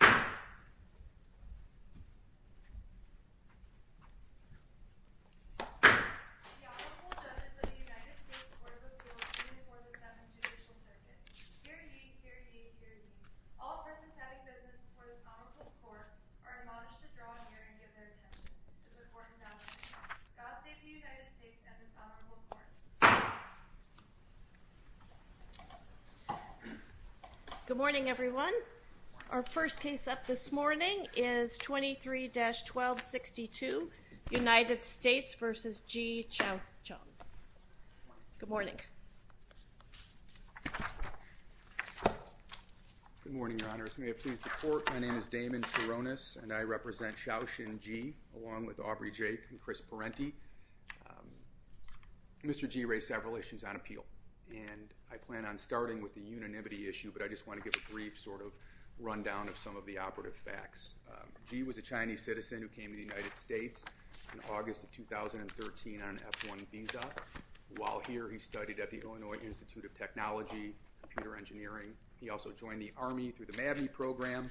The Honorable Judge of the United States Court of Appeals before the 7th Judicial Circuit. Hear ye, hear ye, hear ye. All persons having business before this Honorable Court are admonished to draw a hearing of their attention. This report is now in writing. God save the United States and this Honorable Court. Good morning, everyone. Our first case up this morning is 23-1262, United States v. Ji Chaoqun. Good morning. Good morning, Your Honors. May it please the Court. My name is Damon Sharonis, and I represent Xiaoxin Ji along with Aubrey Jake and Chris Parenti. Mr. Ji raised several issues on appeal, and I plan on starting with the unanimity issue, but I just want to give a brief sort of rundown of some of the operative facts. Ji was a Chinese citizen who came to the United States in August of 2013 on an F-1 visa. While here, he studied at the Illinois Institute of Technology, Computer Engineering. He also joined the Army through the MAVNI program,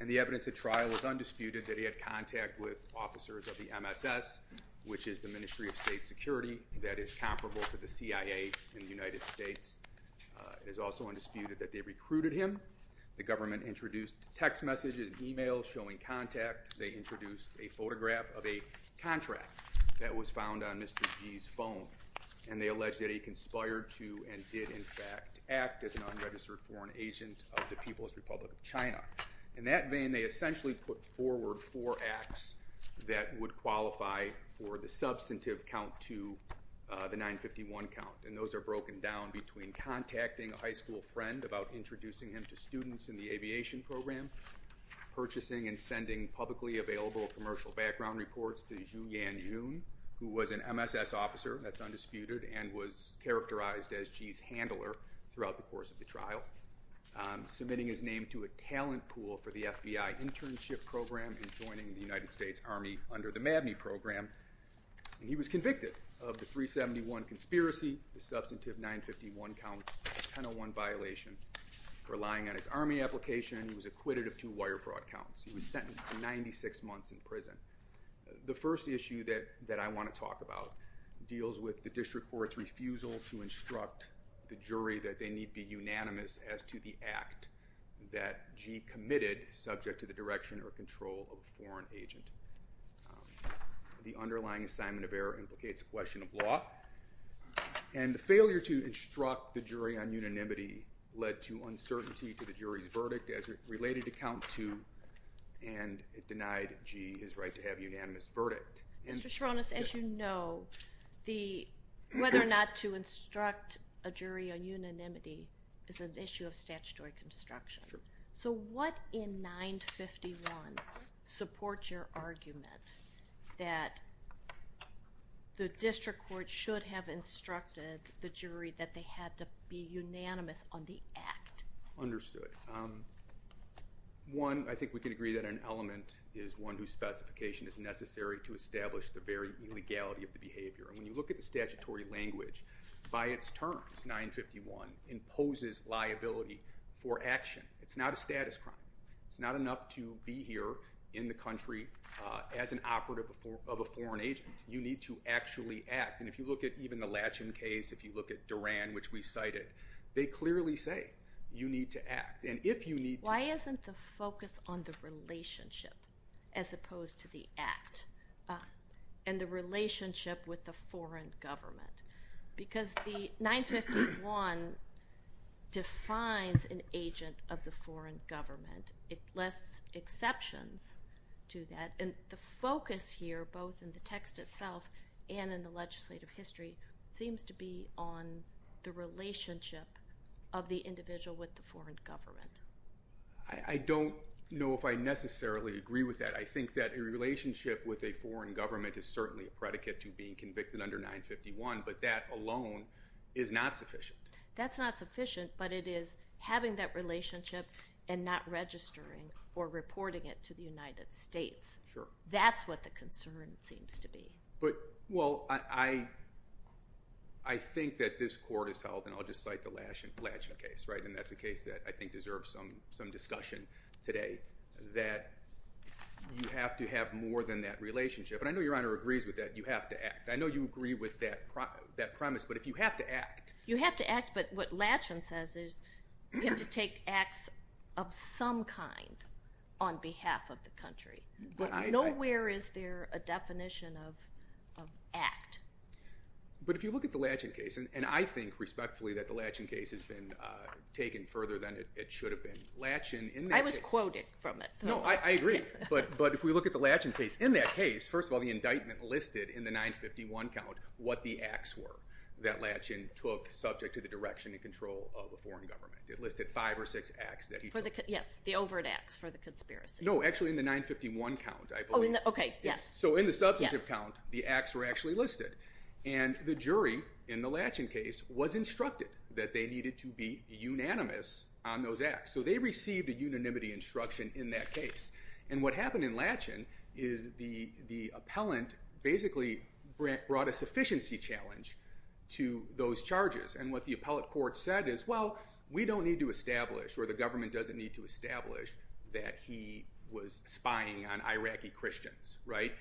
and the evidence at trial was undisputed that he had contact with officers of the MSS, which is the Ministry of State Security, that is comparable to the CIA in the United States. It is also undisputed that they recruited him. The government introduced text messages and e-mails showing contact. They introduced a photograph of a contract that was found on Mr. Ji's phone, and they alleged that he conspired to and did, in fact, act as an unregistered foreign agent of the People's Republic of China. In that vein, they essentially put forward four acts that would qualify for the substantive count to the 951 count, and those are broken down between contacting a high school friend about introducing him to students in the aviation program, purchasing and sending publicly available commercial background reports to Zhu Yanjun, who was an MSS officer, that's undisputed, and was characterized as Ji's handler throughout the course of the trial, submitting his name to a talent pool for the FBI internship program and joining the United States Army under the MAVNI program. He was convicted of the 371 conspiracy, the substantive 951 count, 1001 violation for lying on his Army application. He was acquitted of two wire fraud counts. He was sentenced to 96 months in prison. The first issue that I want to talk about deals with the district court's refusal to instruct the jury that they need be unanimous as to the act that Ji committed subject to the direction or control of a foreign agent. The underlying assignment of error implicates a question of law, and the failure to instruct the jury on unanimity led to uncertainty to the jury's verdict as it related to count two and it denied Ji his right to have a unanimous verdict. Mr. Sharonis, as you know, whether or not to instruct a jury on unanimity is an issue of statutory construction. So what in 951 supports your argument that the district court should have instructed the jury that they had to be unanimous on the act? Understood. One, I think we can agree that an element is one whose specification is necessary to establish the very legality of the behavior. And when you look at the statutory language, by its terms, 951 imposes liability for action. It's not a status crime. It's not enough to be here in the country as an operative of a foreign agent. You need to actually act. And if you look at even the Latchin case, if you look at Duran, which we cited, they clearly say you need to act. Why isn't the focus on the relationship as opposed to the act and the relationship with the foreign government? Because 951 defines an agent of the foreign government. It lists exceptions to that. And the focus here, both in the text itself and in the legislative history, seems to be on the relationship of the individual with the foreign government. I don't know if I necessarily agree with that. I think that a relationship with a foreign government is certainly a predicate to being convicted under 951, but that alone is not sufficient. That's not sufficient, but it is having that relationship and not registering or reporting it to the United States. That's what the concern seems to be. But, well, I think that this court has held, and I'll just cite the Latchin case, and that's a case that I think deserves some discussion today, that you have to have more than that relationship. And I know Your Honor agrees with that. You have to act. I know you agree with that premise, but if you have to act. You have to act, but what Latchin says is you have to take acts of some kind on behalf of the country. Nowhere is there a definition of act. But if you look at the Latchin case, and I think respectfully that the Latchin case has been taken further than it should have been. I was quoted from it. No, I agree. But if we look at the Latchin case, in that case, first of all, the indictment listed in the 951 count what the acts were that Latchin took subject to the direction and control of a foreign government. It listed five or six acts that he took. Yes, the overt acts for the conspiracy. No, actually in the 951 count, I believe. Okay, yes. So in the substantive count, the acts were actually listed. And the jury in the Latchin case was instructed that they needed to be unanimous on those acts. So they received a unanimity instruction in that case. And what happened in Latchin is the appellant basically brought a sufficiency challenge to those charges. And what the appellate court said is, well, we don't need to establish or the government doesn't need to establish that he was spying on Iraqi Christians, right?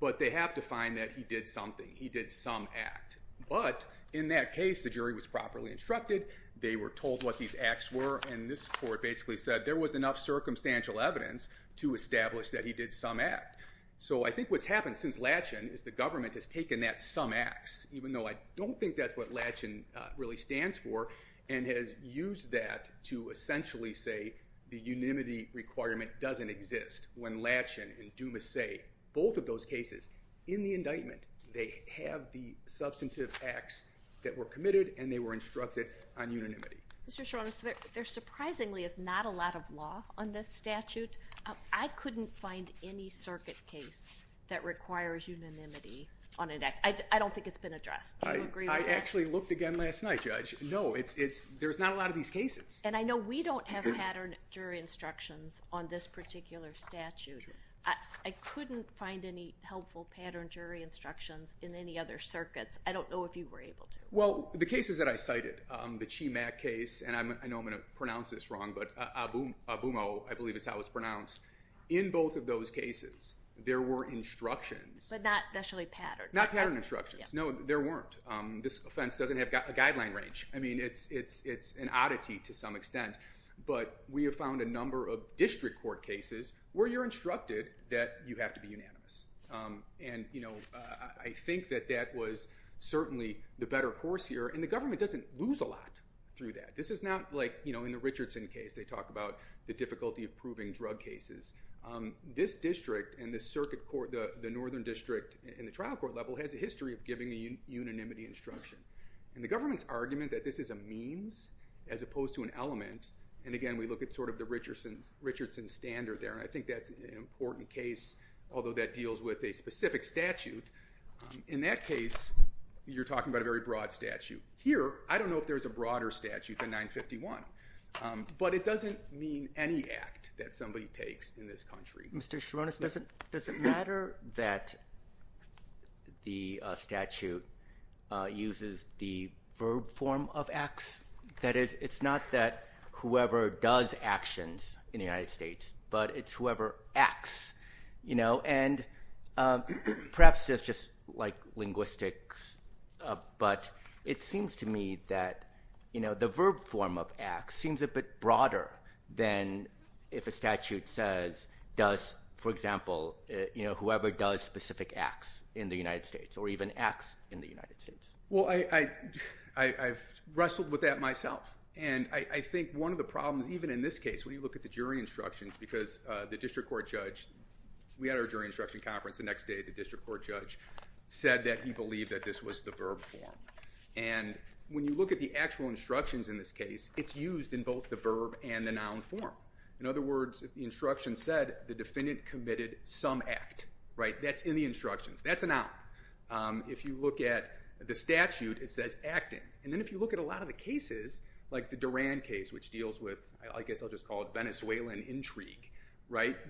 But they have to find that he did something. He did some act. But in that case, the jury was properly instructed. They were told what these acts were. And this court basically said there was enough circumstantial evidence to establish that he did some act. So I think what's happened since Latchin is the government has taken that some acts, even though I don't think that's what Latchin really stands for, and has used that to essentially say the unanimity requirement doesn't exist. When Latchin and Dumas say both of those cases in the indictment, they have the substantive acts that were committed and they were instructed on unanimity. Mr. Schor, there surprisingly is not a lot of law on this statute. I couldn't find any circuit case that requires unanimity on an act. I don't think it's been addressed. I actually looked again last night, Judge. No, there's not a lot of these cases. And I know we don't have patterned jury instructions on this particular statute. I couldn't find any helpful patterned jury instructions in any other circuits. I don't know if you were able to. Well, the cases that I cited, the Cheemak case, and I know I'm going to pronounce this wrong, but Abumo, I believe is how it's pronounced. In both of those cases, there were instructions. But not necessarily patterned. Not patterned instructions. No, there weren't. This offense doesn't have a guideline range. I mean, it's an oddity to some extent. But we have found a number of district court cases where you're instructed that you have to be unanimous. And I think that that was certainly the better course here. And the government doesn't lose a lot through that. This is not like in the Richardson case, they talk about the difficulty of proving drug cases. This district and the circuit court, the northern district, and the trial court level has a history of giving the unanimity instruction. And the government's argument that this is a means as opposed to an element, and again, we look at sort of the Richardson standard there, and I think that's an important case, although that deals with a specific statute. In that case, you're talking about a very broad statute. Here, I don't know if there's a broader statute than 951. But it doesn't mean any act that somebody takes in this country. Mr. Sharonis, does it matter that the statute uses the verb form of acts? That is, it's not that whoever does actions in the United States, but it's whoever acts. And perhaps it's just like linguistics, but it seems to me that the verb form of acts seems a bit broader than if a statute says, for example, whoever does specific acts in the United States, or even acts in the United States. Well, I've wrestled with that myself, and I think one of the problems, even in this case, when you look at the jury instructions, because the district court judge, we had our jury instruction conference the next day, the district court judge said that he believed that this was the verb form. And when you look at the actual instructions in this case, it's used in both the verb and the noun form. In other words, the instruction said, the defendant committed some act. That's in the instructions. That's a noun. If you look at the statute, it says acting. And then if you look at a lot of the cases, like the Duran case, which deals with, I guess I'll just call it Venezuelan intrigue,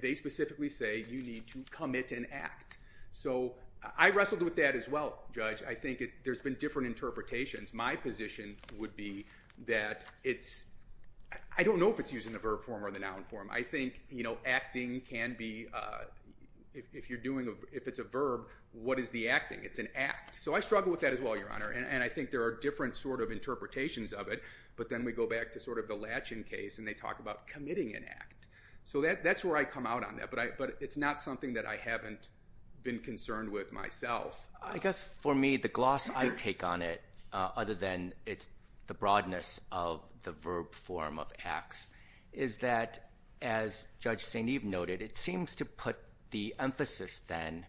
they specifically say you need to commit an act. So I wrestled with that as well, Judge. I think there's been different interpretations. My position would be that it's, I don't know if it's used in the verb form or the noun form. I think, you know, acting can be, if you're doing, if it's a verb, what is the acting? It's an act. So I struggle with that as well, Your Honor, and I think there are different sort of interpretations of it, but then we go back to sort of the Latchin case, and they talk about committing an act. So that's where I come out on that, but it's not something that I haven't been concerned with myself. I guess, for me, the gloss I take on it, other than the broadness of the verb form of acts, is that, as Judge St. Eve noted, it seems to put the emphasis, then,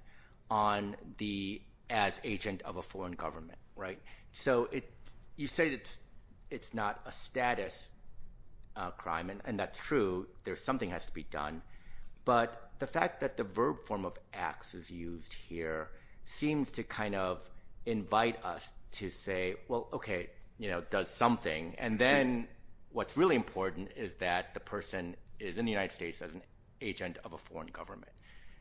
on the as agent of a foreign government, right? So you say it's not a status crime, and that's true. Something has to be done. But the fact that the verb form of acts is used here seems to kind of invite us to say, well, okay, you know, does something. And then what's really important is that the person is in the United States as an agent of a foreign government.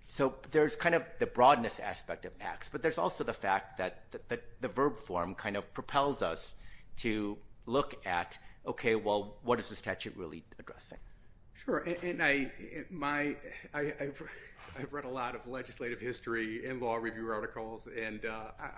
So there's kind of the broadness aspect of acts, but there's also the fact that the verb form kind of propels us to look at, okay, well, what is the statute really addressing? Sure, and I've read a lot of legislative history and law review articles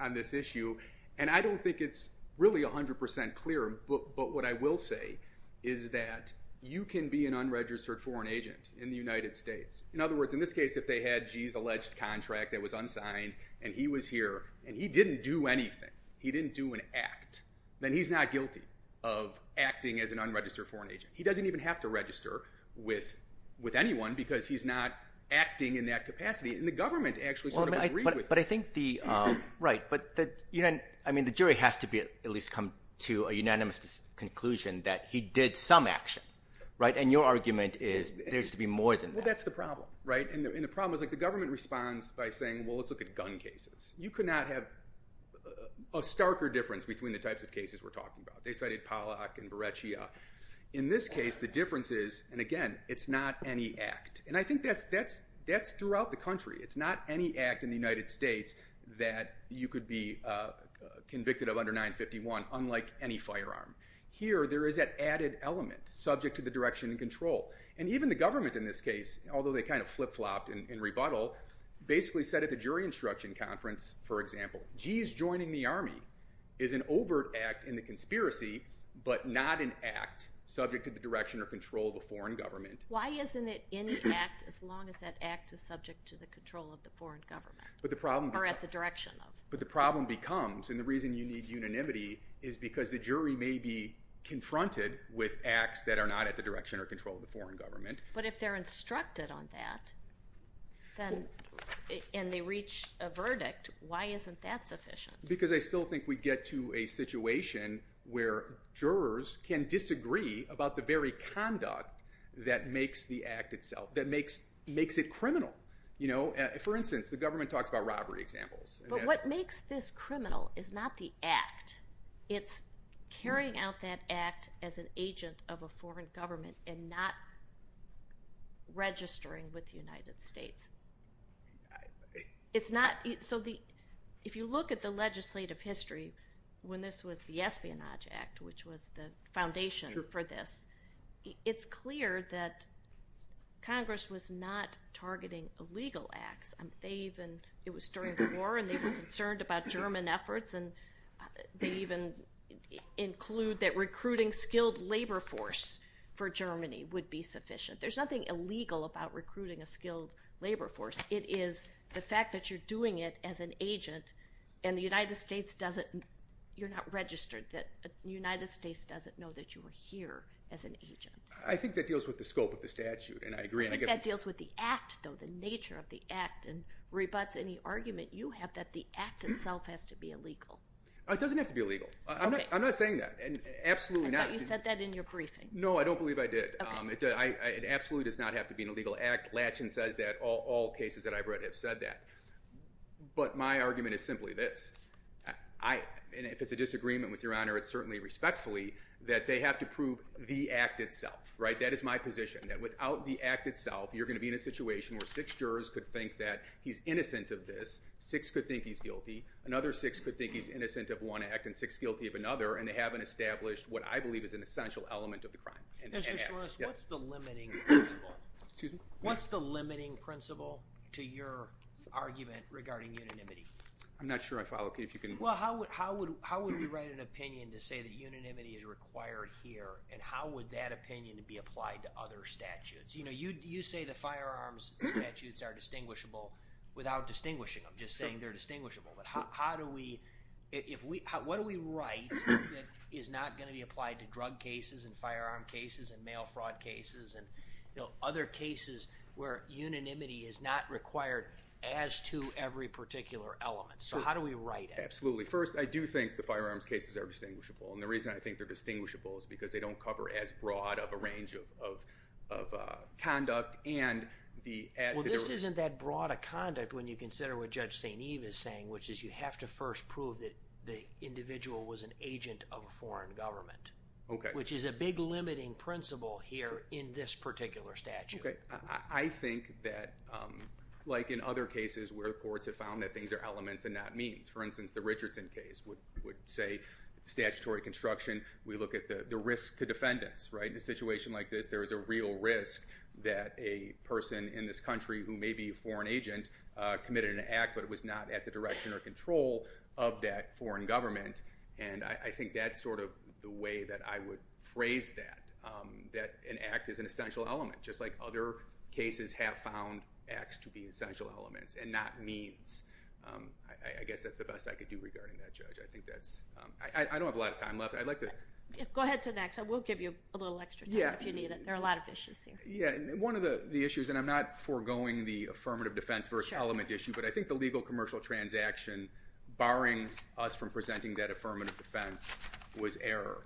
on this issue, and I don't think it's really 100% clear, but what I will say is that you can be an unregistered foreign agent in the United States. In other words, in this case, if they had G's alleged contract that was unsigned, and he was here, and he didn't do anything, he didn't do an act, then he's not guilty of acting as an unregistered foreign agent. He doesn't even have to register with anyone because he's not acting in that capacity, and the government actually sort of agrees with that. But I think the jury has to at least come to a unanimous conclusion that he did some action, right? And your argument is there needs to be more than that. Well, that's the problem, right? And the problem is the government responds by saying, well, let's look at gun cases. You could not have a starker difference between the types of cases we're talking about. They studied Pollack and Beretschia. In this case, the difference is, and again, it's not any act. And I think that's throughout the country. It's not any act in the United States that you could be convicted of under 951, unlike any firearm. Here, there is that added element, subject to the direction and control. And even the government in this case, although they kind of flip-flopped in rebuttal, basically said at the jury instruction conference, for example, G's joining the Army is an overt act in the conspiracy but not an act subject to the direction or control of a foreign government. Why isn't it any act as long as that act is subject to the control of the foreign government? Or at the direction of? But the problem becomes, and the reason you need unanimity is because the jury may be confronted with acts that are not at the direction or control of the foreign government. But if they're instructed on that, and they reach a verdict, why isn't that sufficient? Because I still think we get to a situation where jurors can disagree about the very conduct that makes the act itself, that makes it criminal. For instance, the government talks about robbery examples. But what makes this criminal is not the act. It's carrying out that act as an agent of a foreign government and not registering with the United States. So if you look at the legislative history, when this was the Espionage Act, which was the foundation for this, it's clear that Congress was not targeting illegal acts. It was during the war, and they were concerned about German efforts, and they even include that recruiting skilled labor force for Germany would be sufficient. There's nothing illegal about recruiting a skilled labor force. It is the fact that you're doing it as an agent, and you're not registered. The United States doesn't know that you were here as an agent. I think that deals with the scope of the statute, and I agree. I think that deals with the act, though, the nature of the act, and rebuts any argument you have that the act itself has to be illegal. It doesn't have to be illegal. I'm not saying that. I thought you said that in your briefing. No, I don't believe I did. It absolutely does not have to be an illegal act. Latchin says that, all cases that I've read have said that. But my argument is simply this. If it's a disagreement with Your Honor, it's certainly respectfully that they have to prove the act itself. That is my position, that without the act itself, you're going to be in a situation where six jurors could think that he's innocent of this, six could think he's guilty, another six could think he's innocent of one act, and six guilty of another, and they haven't established what I believe is an essential element of the crime. Mr. Shouros, what's the limiting principle? What's the limiting principle to your argument regarding unanimity? I'm not sure I follow, Keith. How would we write an opinion to say that unanimity is required here, and how would that opinion be applied to other statutes? You say the firearms statutes are distinguishable without distinguishing them, just saying they're distinguishable. But what do we write that is not going to be applied to drug cases and firearm cases and mail fraud cases and other cases where unanimity is not required as to every particular element? How do we write it? Absolutely. First, I do think the firearms cases are distinguishable, and the reason I think they're distinguishable is because they don't cover as broad of a range of conduct. Well, this isn't that broad a conduct when you consider what Judge St. Eve is saying, which is you have to first prove that the individual was an agent of a foreign government, which is a big limiting principle here in this particular statute. Okay. I think that, like in other cases where courts have found that things are elements and not means, for instance, the Richardson case would say statutory construction. We look at the risk to defendants, right? In a situation like this, there is a real risk that a person in this country who may be a foreign agent committed an act, but it was not at the direction or control of that foreign government, and I think that's sort of the way that I would phrase that, that an act is an essential element, just like other cases have found acts to be essential elements and not means. I guess that's the best I could do regarding that, Judge. I don't have a lot of time left. Go ahead to the next. I will give you a little extra time if you need it. There are a lot of issues here. One of the issues, and I'm not foregoing the affirmative defense versus element issue, but I think the legal commercial transaction, barring us from presenting that affirmative defense, was error.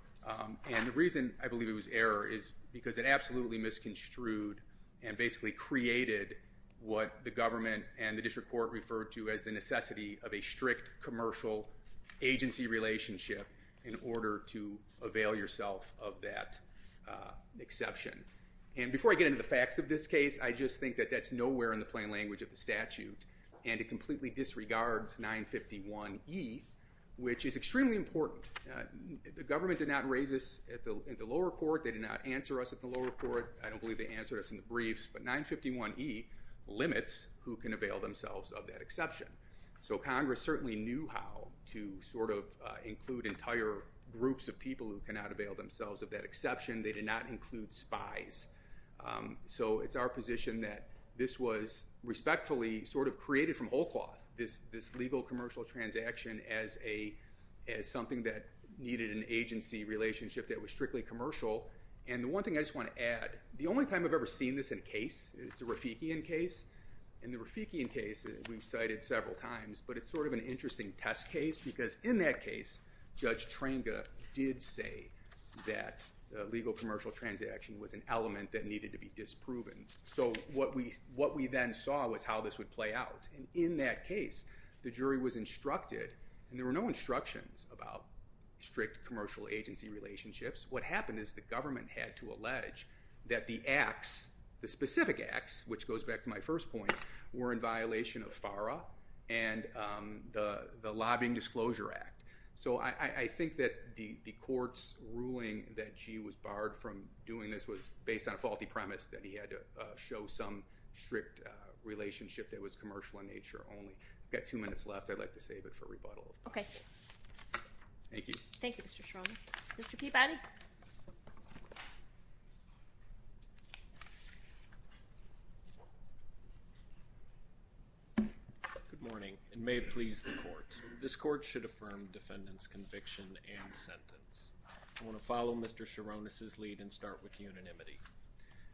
And the reason I believe it was error is because it absolutely misconstrued and basically created what the government and the district court referred to as the necessity of a strict commercial agency relationship in order to avail yourself of that exception. And before I get into the facts of this case, I just think that that's nowhere in the plain language of the statute, and it completely disregards 951E, which is extremely important. The government did not raise this at the lower court. They did not answer us at the lower court. I don't believe they answered us in the briefs, but 951E limits who can avail themselves of that exception. So Congress certainly knew how to sort of include entire groups of people who cannot avail themselves of that exception. They did not include spies. So it's our position that this was respectfully sort of created from whole cloth, this legal commercial transaction, as something that needed an agency relationship that was strictly commercial. And the one thing I just want to add, the only time I've ever seen this in a case is the Rafikian case. And the Rafikian case, we've cited several times, but it's sort of an interesting test case because in that case, Judge Tranga did say that legal commercial transaction was an element that needed to be disproven. So what we then saw was how this would play out. And in that case, the jury was instructed, and there were no instructions about strict commercial agency relationships. What happened is the government had to allege that the acts, the specific acts, which goes back to my first point, were in violation of FARA and the Lobbying Disclosure Act. So I think that the court's ruling that she was barred from doing this was based on a faulty premise that he had to show some strict relationship that was commercial in nature only. We've got two minutes left. I'd like to save it for rebuttal. Okay. Thank you. Thank you, Mr. Sharonis. Mr. Peabody. Good morning, and may it please the court. This court should affirm defendant's conviction and sentence. I want to follow Mr. Sharonis' lead and start with unanimity.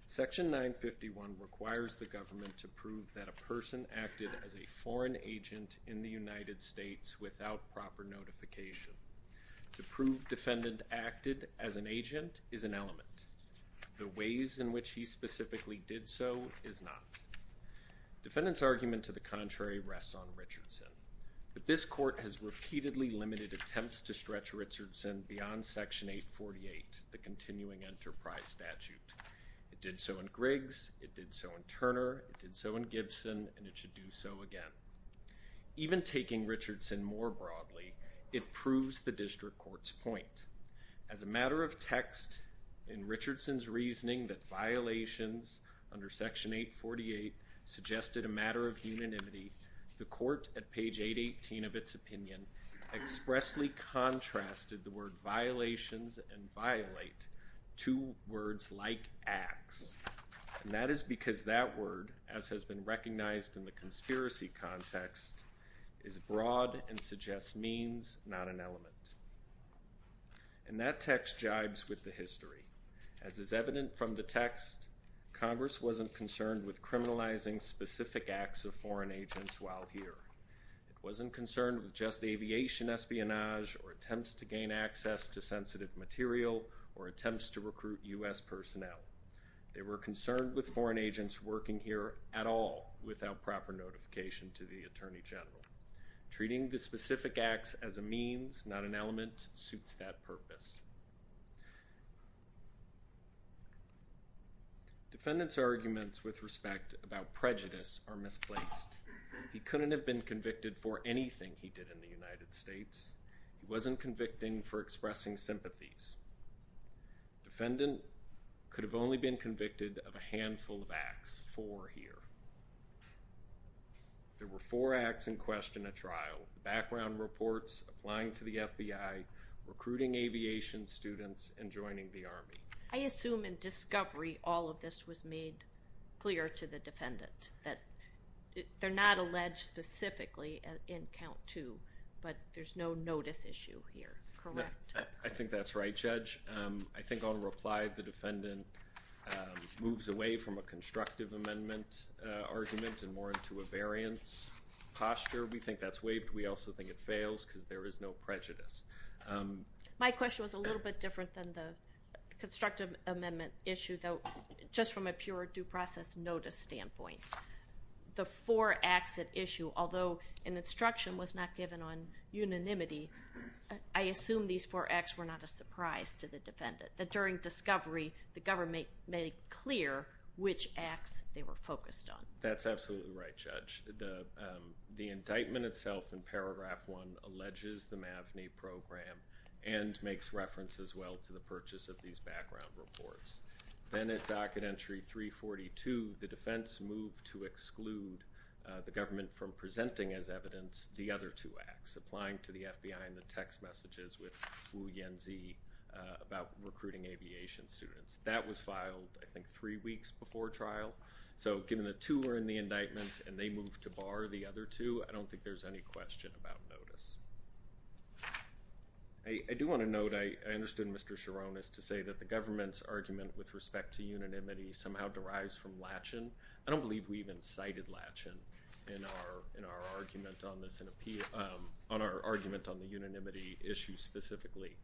Section 951 requires the government to prove that a person acted as a foreign agent in the United States without proper notification. To prove defendant acted as an agent is an element. The ways in which he specifically did so is not. Defendant's argument to the contrary rests on Richardson. But this court has repeatedly limited attempts to stretch Richardson beyond Section 848, the continuing enterprise statute. It did so in Griggs, it did so in Turner, it did so in Gibson, and it should do so again. Even taking Richardson more broadly, it proves the district court's point. As a matter of text, in Richardson's reasoning that violations under Section 848 suggested a matter of unanimity, the court at page 818 of its opinion expressly contrasted the word violations and violate to words like acts, and that is because that word, as has been recognized in the conspiracy context, is broad and suggests means, not an element. And that text jibes with the history. As is evident from the text, Congress wasn't concerned with criminalizing specific acts of foreign agents while here. It wasn't concerned with just aviation espionage or attempts to gain access to sensitive material or attempts to recruit U.S. personnel. They were concerned with foreign agents working here at all without proper notification to the Attorney General. Treating the specific acts as a means, not an element, suits that purpose. Defendant's arguments with respect about prejudice are misplaced. He couldn't have been convicted for anything he did in the United States. He wasn't convicting for expressing sympathies. Defendant could have only been convicted of a handful of acts, four here. There were four acts in question at trial, background reports, applying to the FBI, recruiting aviation students, and joining the Army. I assume in discovery all of this was made clear to the defendant, that they're not alleged specifically in count two, but there's no notice issue here, correct? I think that's right, Judge. I think on reply the defendant moves away from a constructive amendment argument and more into a variance posture. We think that's waived. We also think it fails because there is no prejudice. My question was a little bit different than the constructive amendment issue, though just from a pure due process notice standpoint. The four acts at issue, although an instruction was not given on unanimity, I assume these four acts were not a surprise to the defendant, that during discovery the government made clear which acts they were focused on. That's absolutely right, Judge. The indictment itself in paragraph one alleges the MAVNI program and makes reference as well to the purchase of these background reports. Then at docket entry 342, the defense moved to exclude the government from presenting as evidence the other two acts, applying to the FBI in the text messages with Hu Yanzhi about recruiting aviation students. That was filed, I think, three weeks before trial. Given the two were in the indictment and they moved to bar the other two, I don't think there's any question about notice. I do want to note, I understood Mr. Chiron, is to say that the government's argument with respect to unanimity somehow derives from Latchin. I don't believe we even cited Latchin in our argument on the unanimity issue specifically.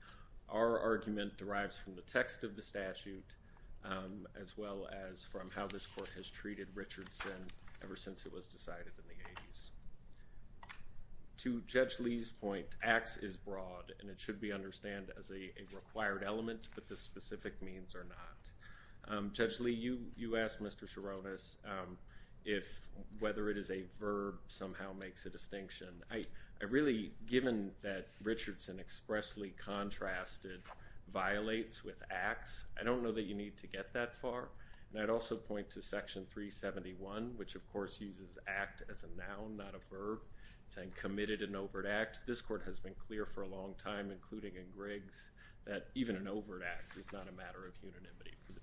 Our argument derives from the text of the statute as well as from how this court has treated Richardson ever since it was decided in the 80s. To Judge Lee's point, acts is broad and it should be understood as a required element, but the specific means are not. Judge Lee, you asked Mr. Chironis if whether it is a verb somehow makes a distinction. I really, given that Richardson expressly contrasted violates with acts, I don't know that you need to get that far. I'd also point to Section 371, which, of course, uses act as a noun, not a verb. It's saying committed an overt act. This court has been clear for a long time, including in Griggs, that even an overt act is not a matter of unanimity for the jury.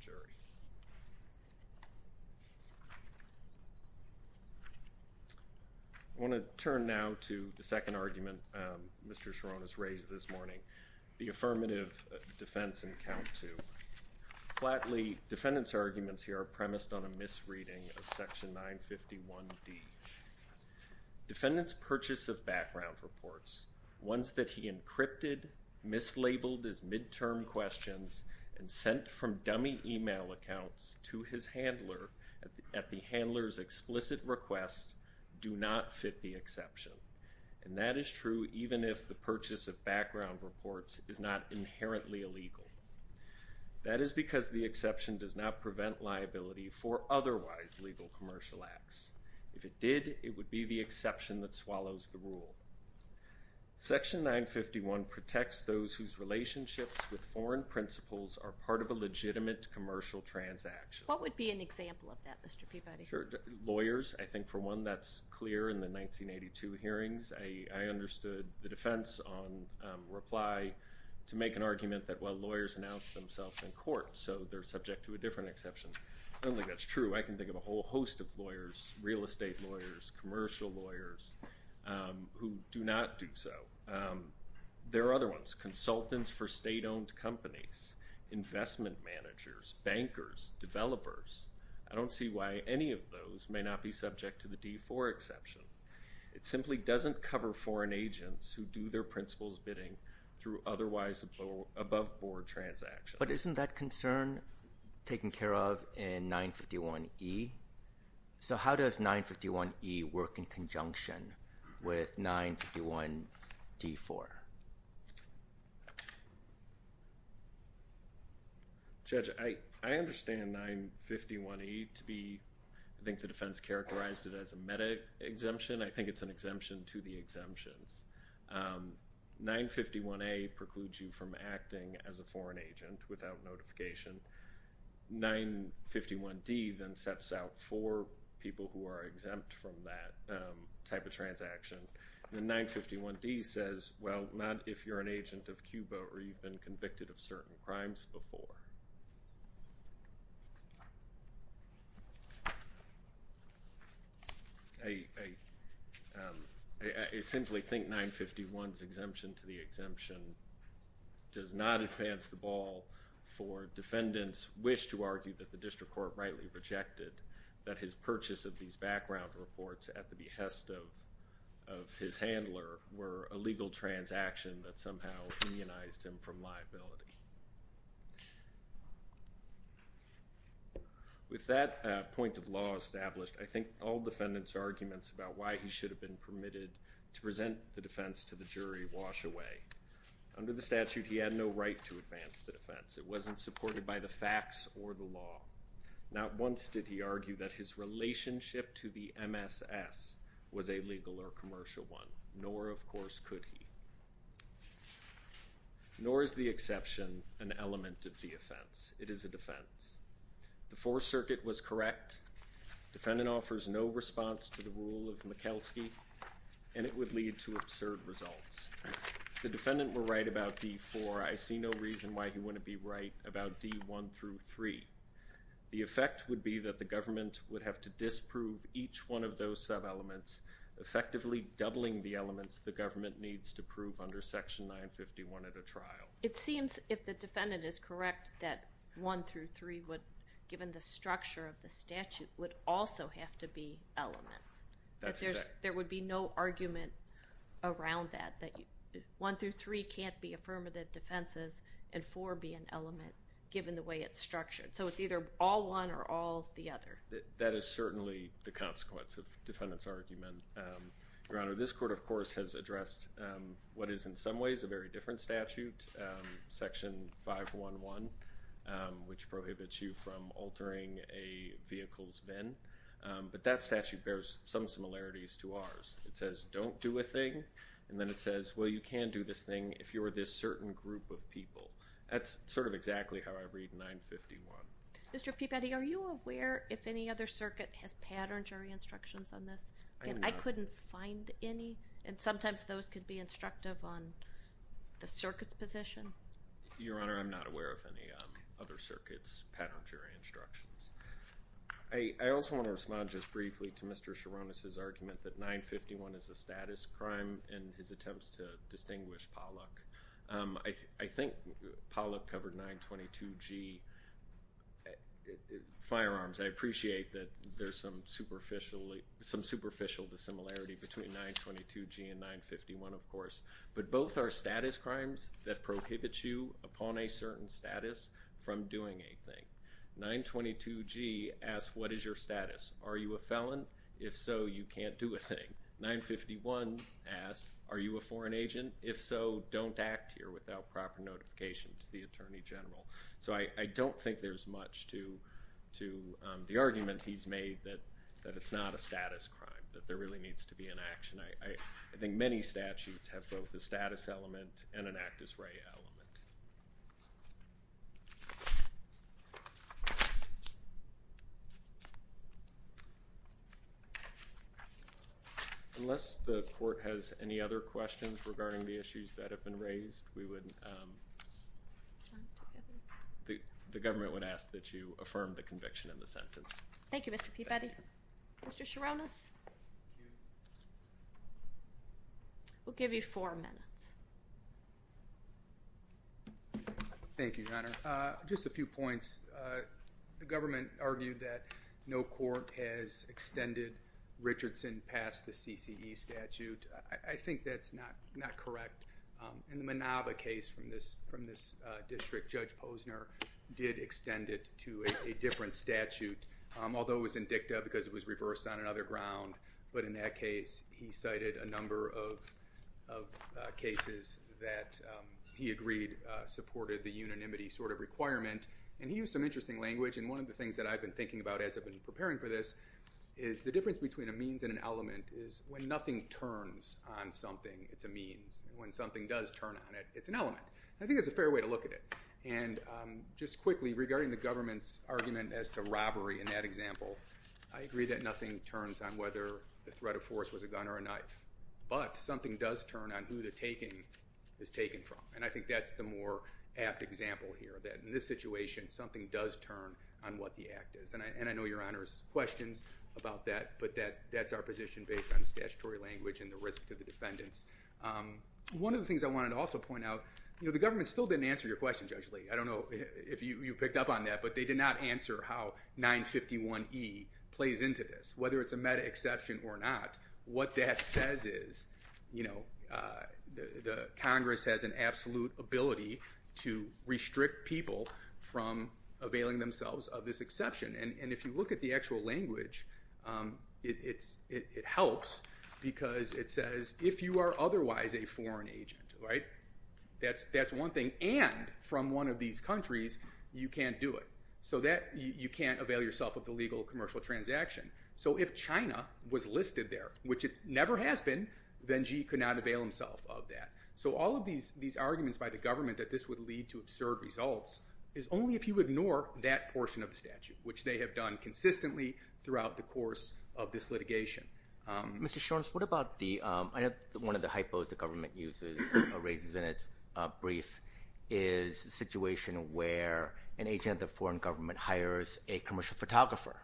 I want to turn now to the second argument Mr. Chironis raised this morning, the affirmative defense in count two. Flatly, defendant's arguments here are premised on a misreading of Section 951D. Defendant's purchase of background reports, ones that he encrypted, mislabeled as midterm questions, and sent from dummy email accounts to his handler at the handler's explicit request, do not fit the exception. And that is true even if the purchase of background reports is not inherently illegal. That is because the exception does not prevent liability for otherwise legal commercial acts. If it did, it would be the exception that swallows the rule. Section 951 protects those whose relationships with foreign principles are part of a legitimate commercial transaction. What would be an example of that, Mr. Peabody? Sure. Lawyers. I think for one, that's clear in the 1982 hearings. I understood the defense on reply to make an argument that while lawyers announce themselves in court, so they're subject to a different exception. I don't think that's true. I can think of a whole host of lawyers, real estate lawyers, commercial lawyers, who do not do so. There are other ones, consultants for state-owned companies, investment managers, bankers, developers. I don't see why any of those may not be subject to the D4 exception. It simply doesn't cover foreign agents who do their principles bidding through otherwise above-board transactions. But isn't that concern taken care of in 951E? So how does 951E work in conjunction with 951D4? Judge, I understand 951E to be, I think the defense characterized it as a meta-exemption. I think it's an exemption to the exemptions. 951A precludes you from acting as a foreign agent without notification. 951D then sets out for people who are exempt from that type of transaction. And 951D says, well, not if you're an agent of Cuba or you've been convicted of certain crimes before. I simply think 951's exemption to the exemption does not advance the ball for defendants' wish to argue that the district court rightly rejected that his purchase of these background reports at the behest of his handler were a legal transaction that somehow unionized him from liability. With that point of law established, I think all defendants' arguments about why he should have been permitted to present the defense to the jury wash away. Under the statute, he had no right to advance the defense. It wasn't supported by the facts or the law. Not once did he argue that his relationship to the MSS was a legal or commercial one, nor, of course, could he. Nor is the exception an element of the offense. It is a defense. The Fourth Circuit was correct. Defendant offers no response to the rule of Mikulski, and it would lead to absurd results. The defendant were right about D4. I see no reason why he wouldn't be right about D1 through 3. The effect would be that the government would have to disprove each one of those sub-elements, effectively doubling the elements the government needs to prove under Section 951 at a trial. It seems, if the defendant is correct, that 1 through 3, given the structure of the statute, would also have to be elements. There would be no argument around that, that 1 through 3 can't be affirmative defenses and 4 be an element, given the way it's structured. So it's either all one or all the other. That is certainly the consequence of defendant's argument, Your Honor. This court, of course, has addressed what is, in some ways, a very different statute, Section 511, which prohibits you from altering a vehicle's VIN. But that statute bears some similarities to ours. It says, don't do a thing. And then it says, well, you can do this thing if you're this certain group of people. That's sort of exactly how I read 951. Mr. Peabody, are you aware if any other circuit has patterned jury instructions on this? Again, I couldn't find any, and sometimes those could be instructive on the circuit's position. Your Honor, I'm not aware of any other circuit's patterned jury instructions. I also want to respond just briefly to Mr. Sharonis' argument that 951 is a status crime in his attempts to distinguish Pollock. I think Pollock covered 922G firearms. I appreciate that there's some superficial dissimilarity between 922G and 951, of course, but both are status crimes that prohibit you upon a certain status from doing a thing. 922G asks, what is your status? Are you a felon? If so, you can't do a thing. 951 asks, are you a foreign agent? If so, don't act here without proper notification to the Attorney General. So I don't think there's much to the argument he's made that it's not a status crime, that there really needs to be an action. I think many statutes have both a status element and an act-as-ray element. Unless the Court has any other questions regarding the issues that have been raised, the government would ask that you affirm the conviction in the sentence. Thank you, Mr. Peabody. Mr. Sharonis? We'll give you four minutes. Thank you, Your Honor. Just a few points. The government argued that no court has extended Richardson past the CCE statute. I think that's not correct. In the Manaba case from this district, Judge Posner did extend it to a different statute, although it was indicta because it was reversed on another ground. But in that case, he cited a number of cases that he agreed supported the unanimity sort of requirement. And he used some interesting language. And one of the things that I've been thinking about as I've been preparing for this is the difference between a means and an element is when nothing turns on something, it's a means. When something does turn on it, it's an element. I think that's a fair way to look at it. And just quickly, regarding the government's argument as to robbery in that example, I agree that nothing turns on whether the threat of force was a gun or a knife. But something does turn on who the taking is taken from. And I think that's the more apt example here, that in this situation, something does turn on what the act is. And I know Your Honor's questions about that, but that's our position based on statutory language and the risk to the defendants. One of the things I wanted to also point out, the government still didn't answer your question, Judge Lee. I don't know if you picked up on that, but they did not answer how 951E plays into this, whether it's a meta exception or not. What that says is the Congress has an absolute ability to restrict people from availing themselves of this exception. And if you look at the actual language, it helps because it says, if you are otherwise a foreign agent, that's one thing, and from one of these countries, you can't do it. So you can't avail yourself of the legal commercial transaction. So if China was listed there, which it never has been, then Xi could not avail himself of that. So all of these arguments by the government that this would lead to absurd results is only if you ignore that portion of the statute, which they have done consistently throughout the course of this litigation. Mr. Shorns, what about the... raises in its brief is a situation where an agent of the foreign government hires a commercial photographer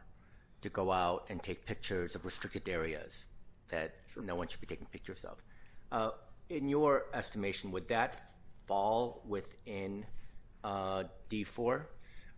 to go out and take pictures of restricted areas that no one should be taking pictures of. In your estimation, would that fall within D4 or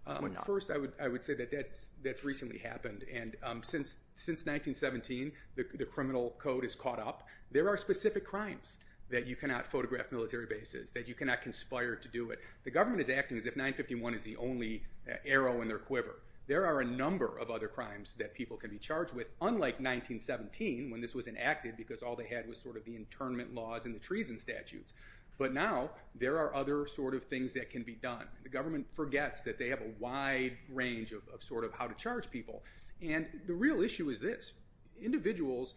not? First, I would say that that's recently happened. And since 1917, the criminal code has caught up. There are specific crimes that you cannot photograph military bases, that you cannot conspire to do it. The government is acting as if 951 is the only arrow in their quiver. There are a number of other crimes that people can be charged with, unlike 1917, when this was enacted because all they had was sort of the internment laws and the treason statutes. But now there are other sort of things that can be done. The government forgets that they have a wide range of sort of how to charge people. And the real issue is this. Individuals...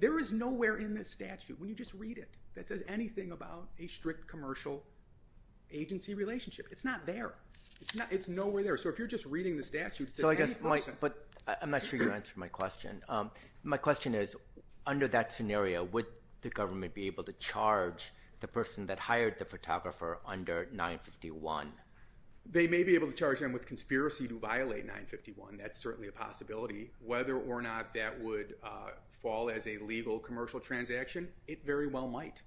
There is nowhere in this statute, when you just read it, that says anything about a strict commercial agency relationship. It's not there. It's nowhere there. So if you're just reading the statute... But I'm not sure you answered my question. My question is, under that scenario, would the government be able to charge the person that hired the photographer under 951? They may be able to charge them with conspiracy to violate 951. And that's certainly a possibility. Whether or not that would fall as a legal commercial transaction, it very well might.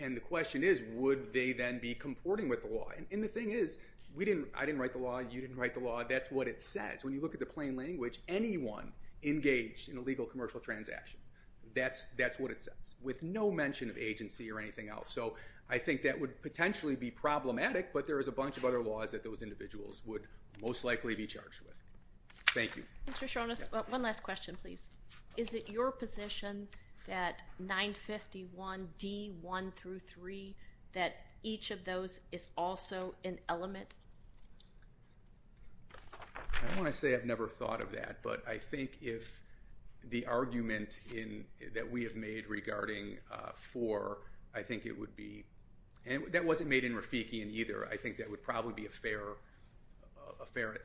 And the question is, would they then be comporting with the law? And the thing is, I didn't write the law, you didn't write the law, that's what it says. When you look at the plain language, anyone engaged in a legal commercial transaction, that's what it says, with no mention of agency or anything else. So I think that would potentially be problematic, but there is a bunch of other laws that those individuals would most likely be charged with. Thank you. Mr. Shronis, one last question, please. Is it your position that 951D1-3, that each of those is also an element? I don't want to say I've never thought of that, but I think if the argument that we have made regarding 4, I think it would be... And that wasn't made in Rafiki either. I think that would probably be a fair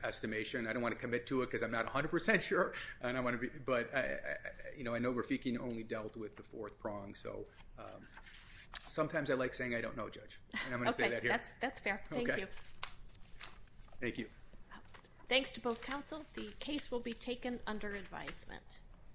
estimation. I don't want to commit to it because I'm not 100% sure, but I know Rafiki only dealt with the fourth prong, so sometimes I like saying I don't know, Judge, and I'm going to say that here. Okay, that's fair. Thank you. Thank you. Thanks to both counsel. The case will be taken under advisement.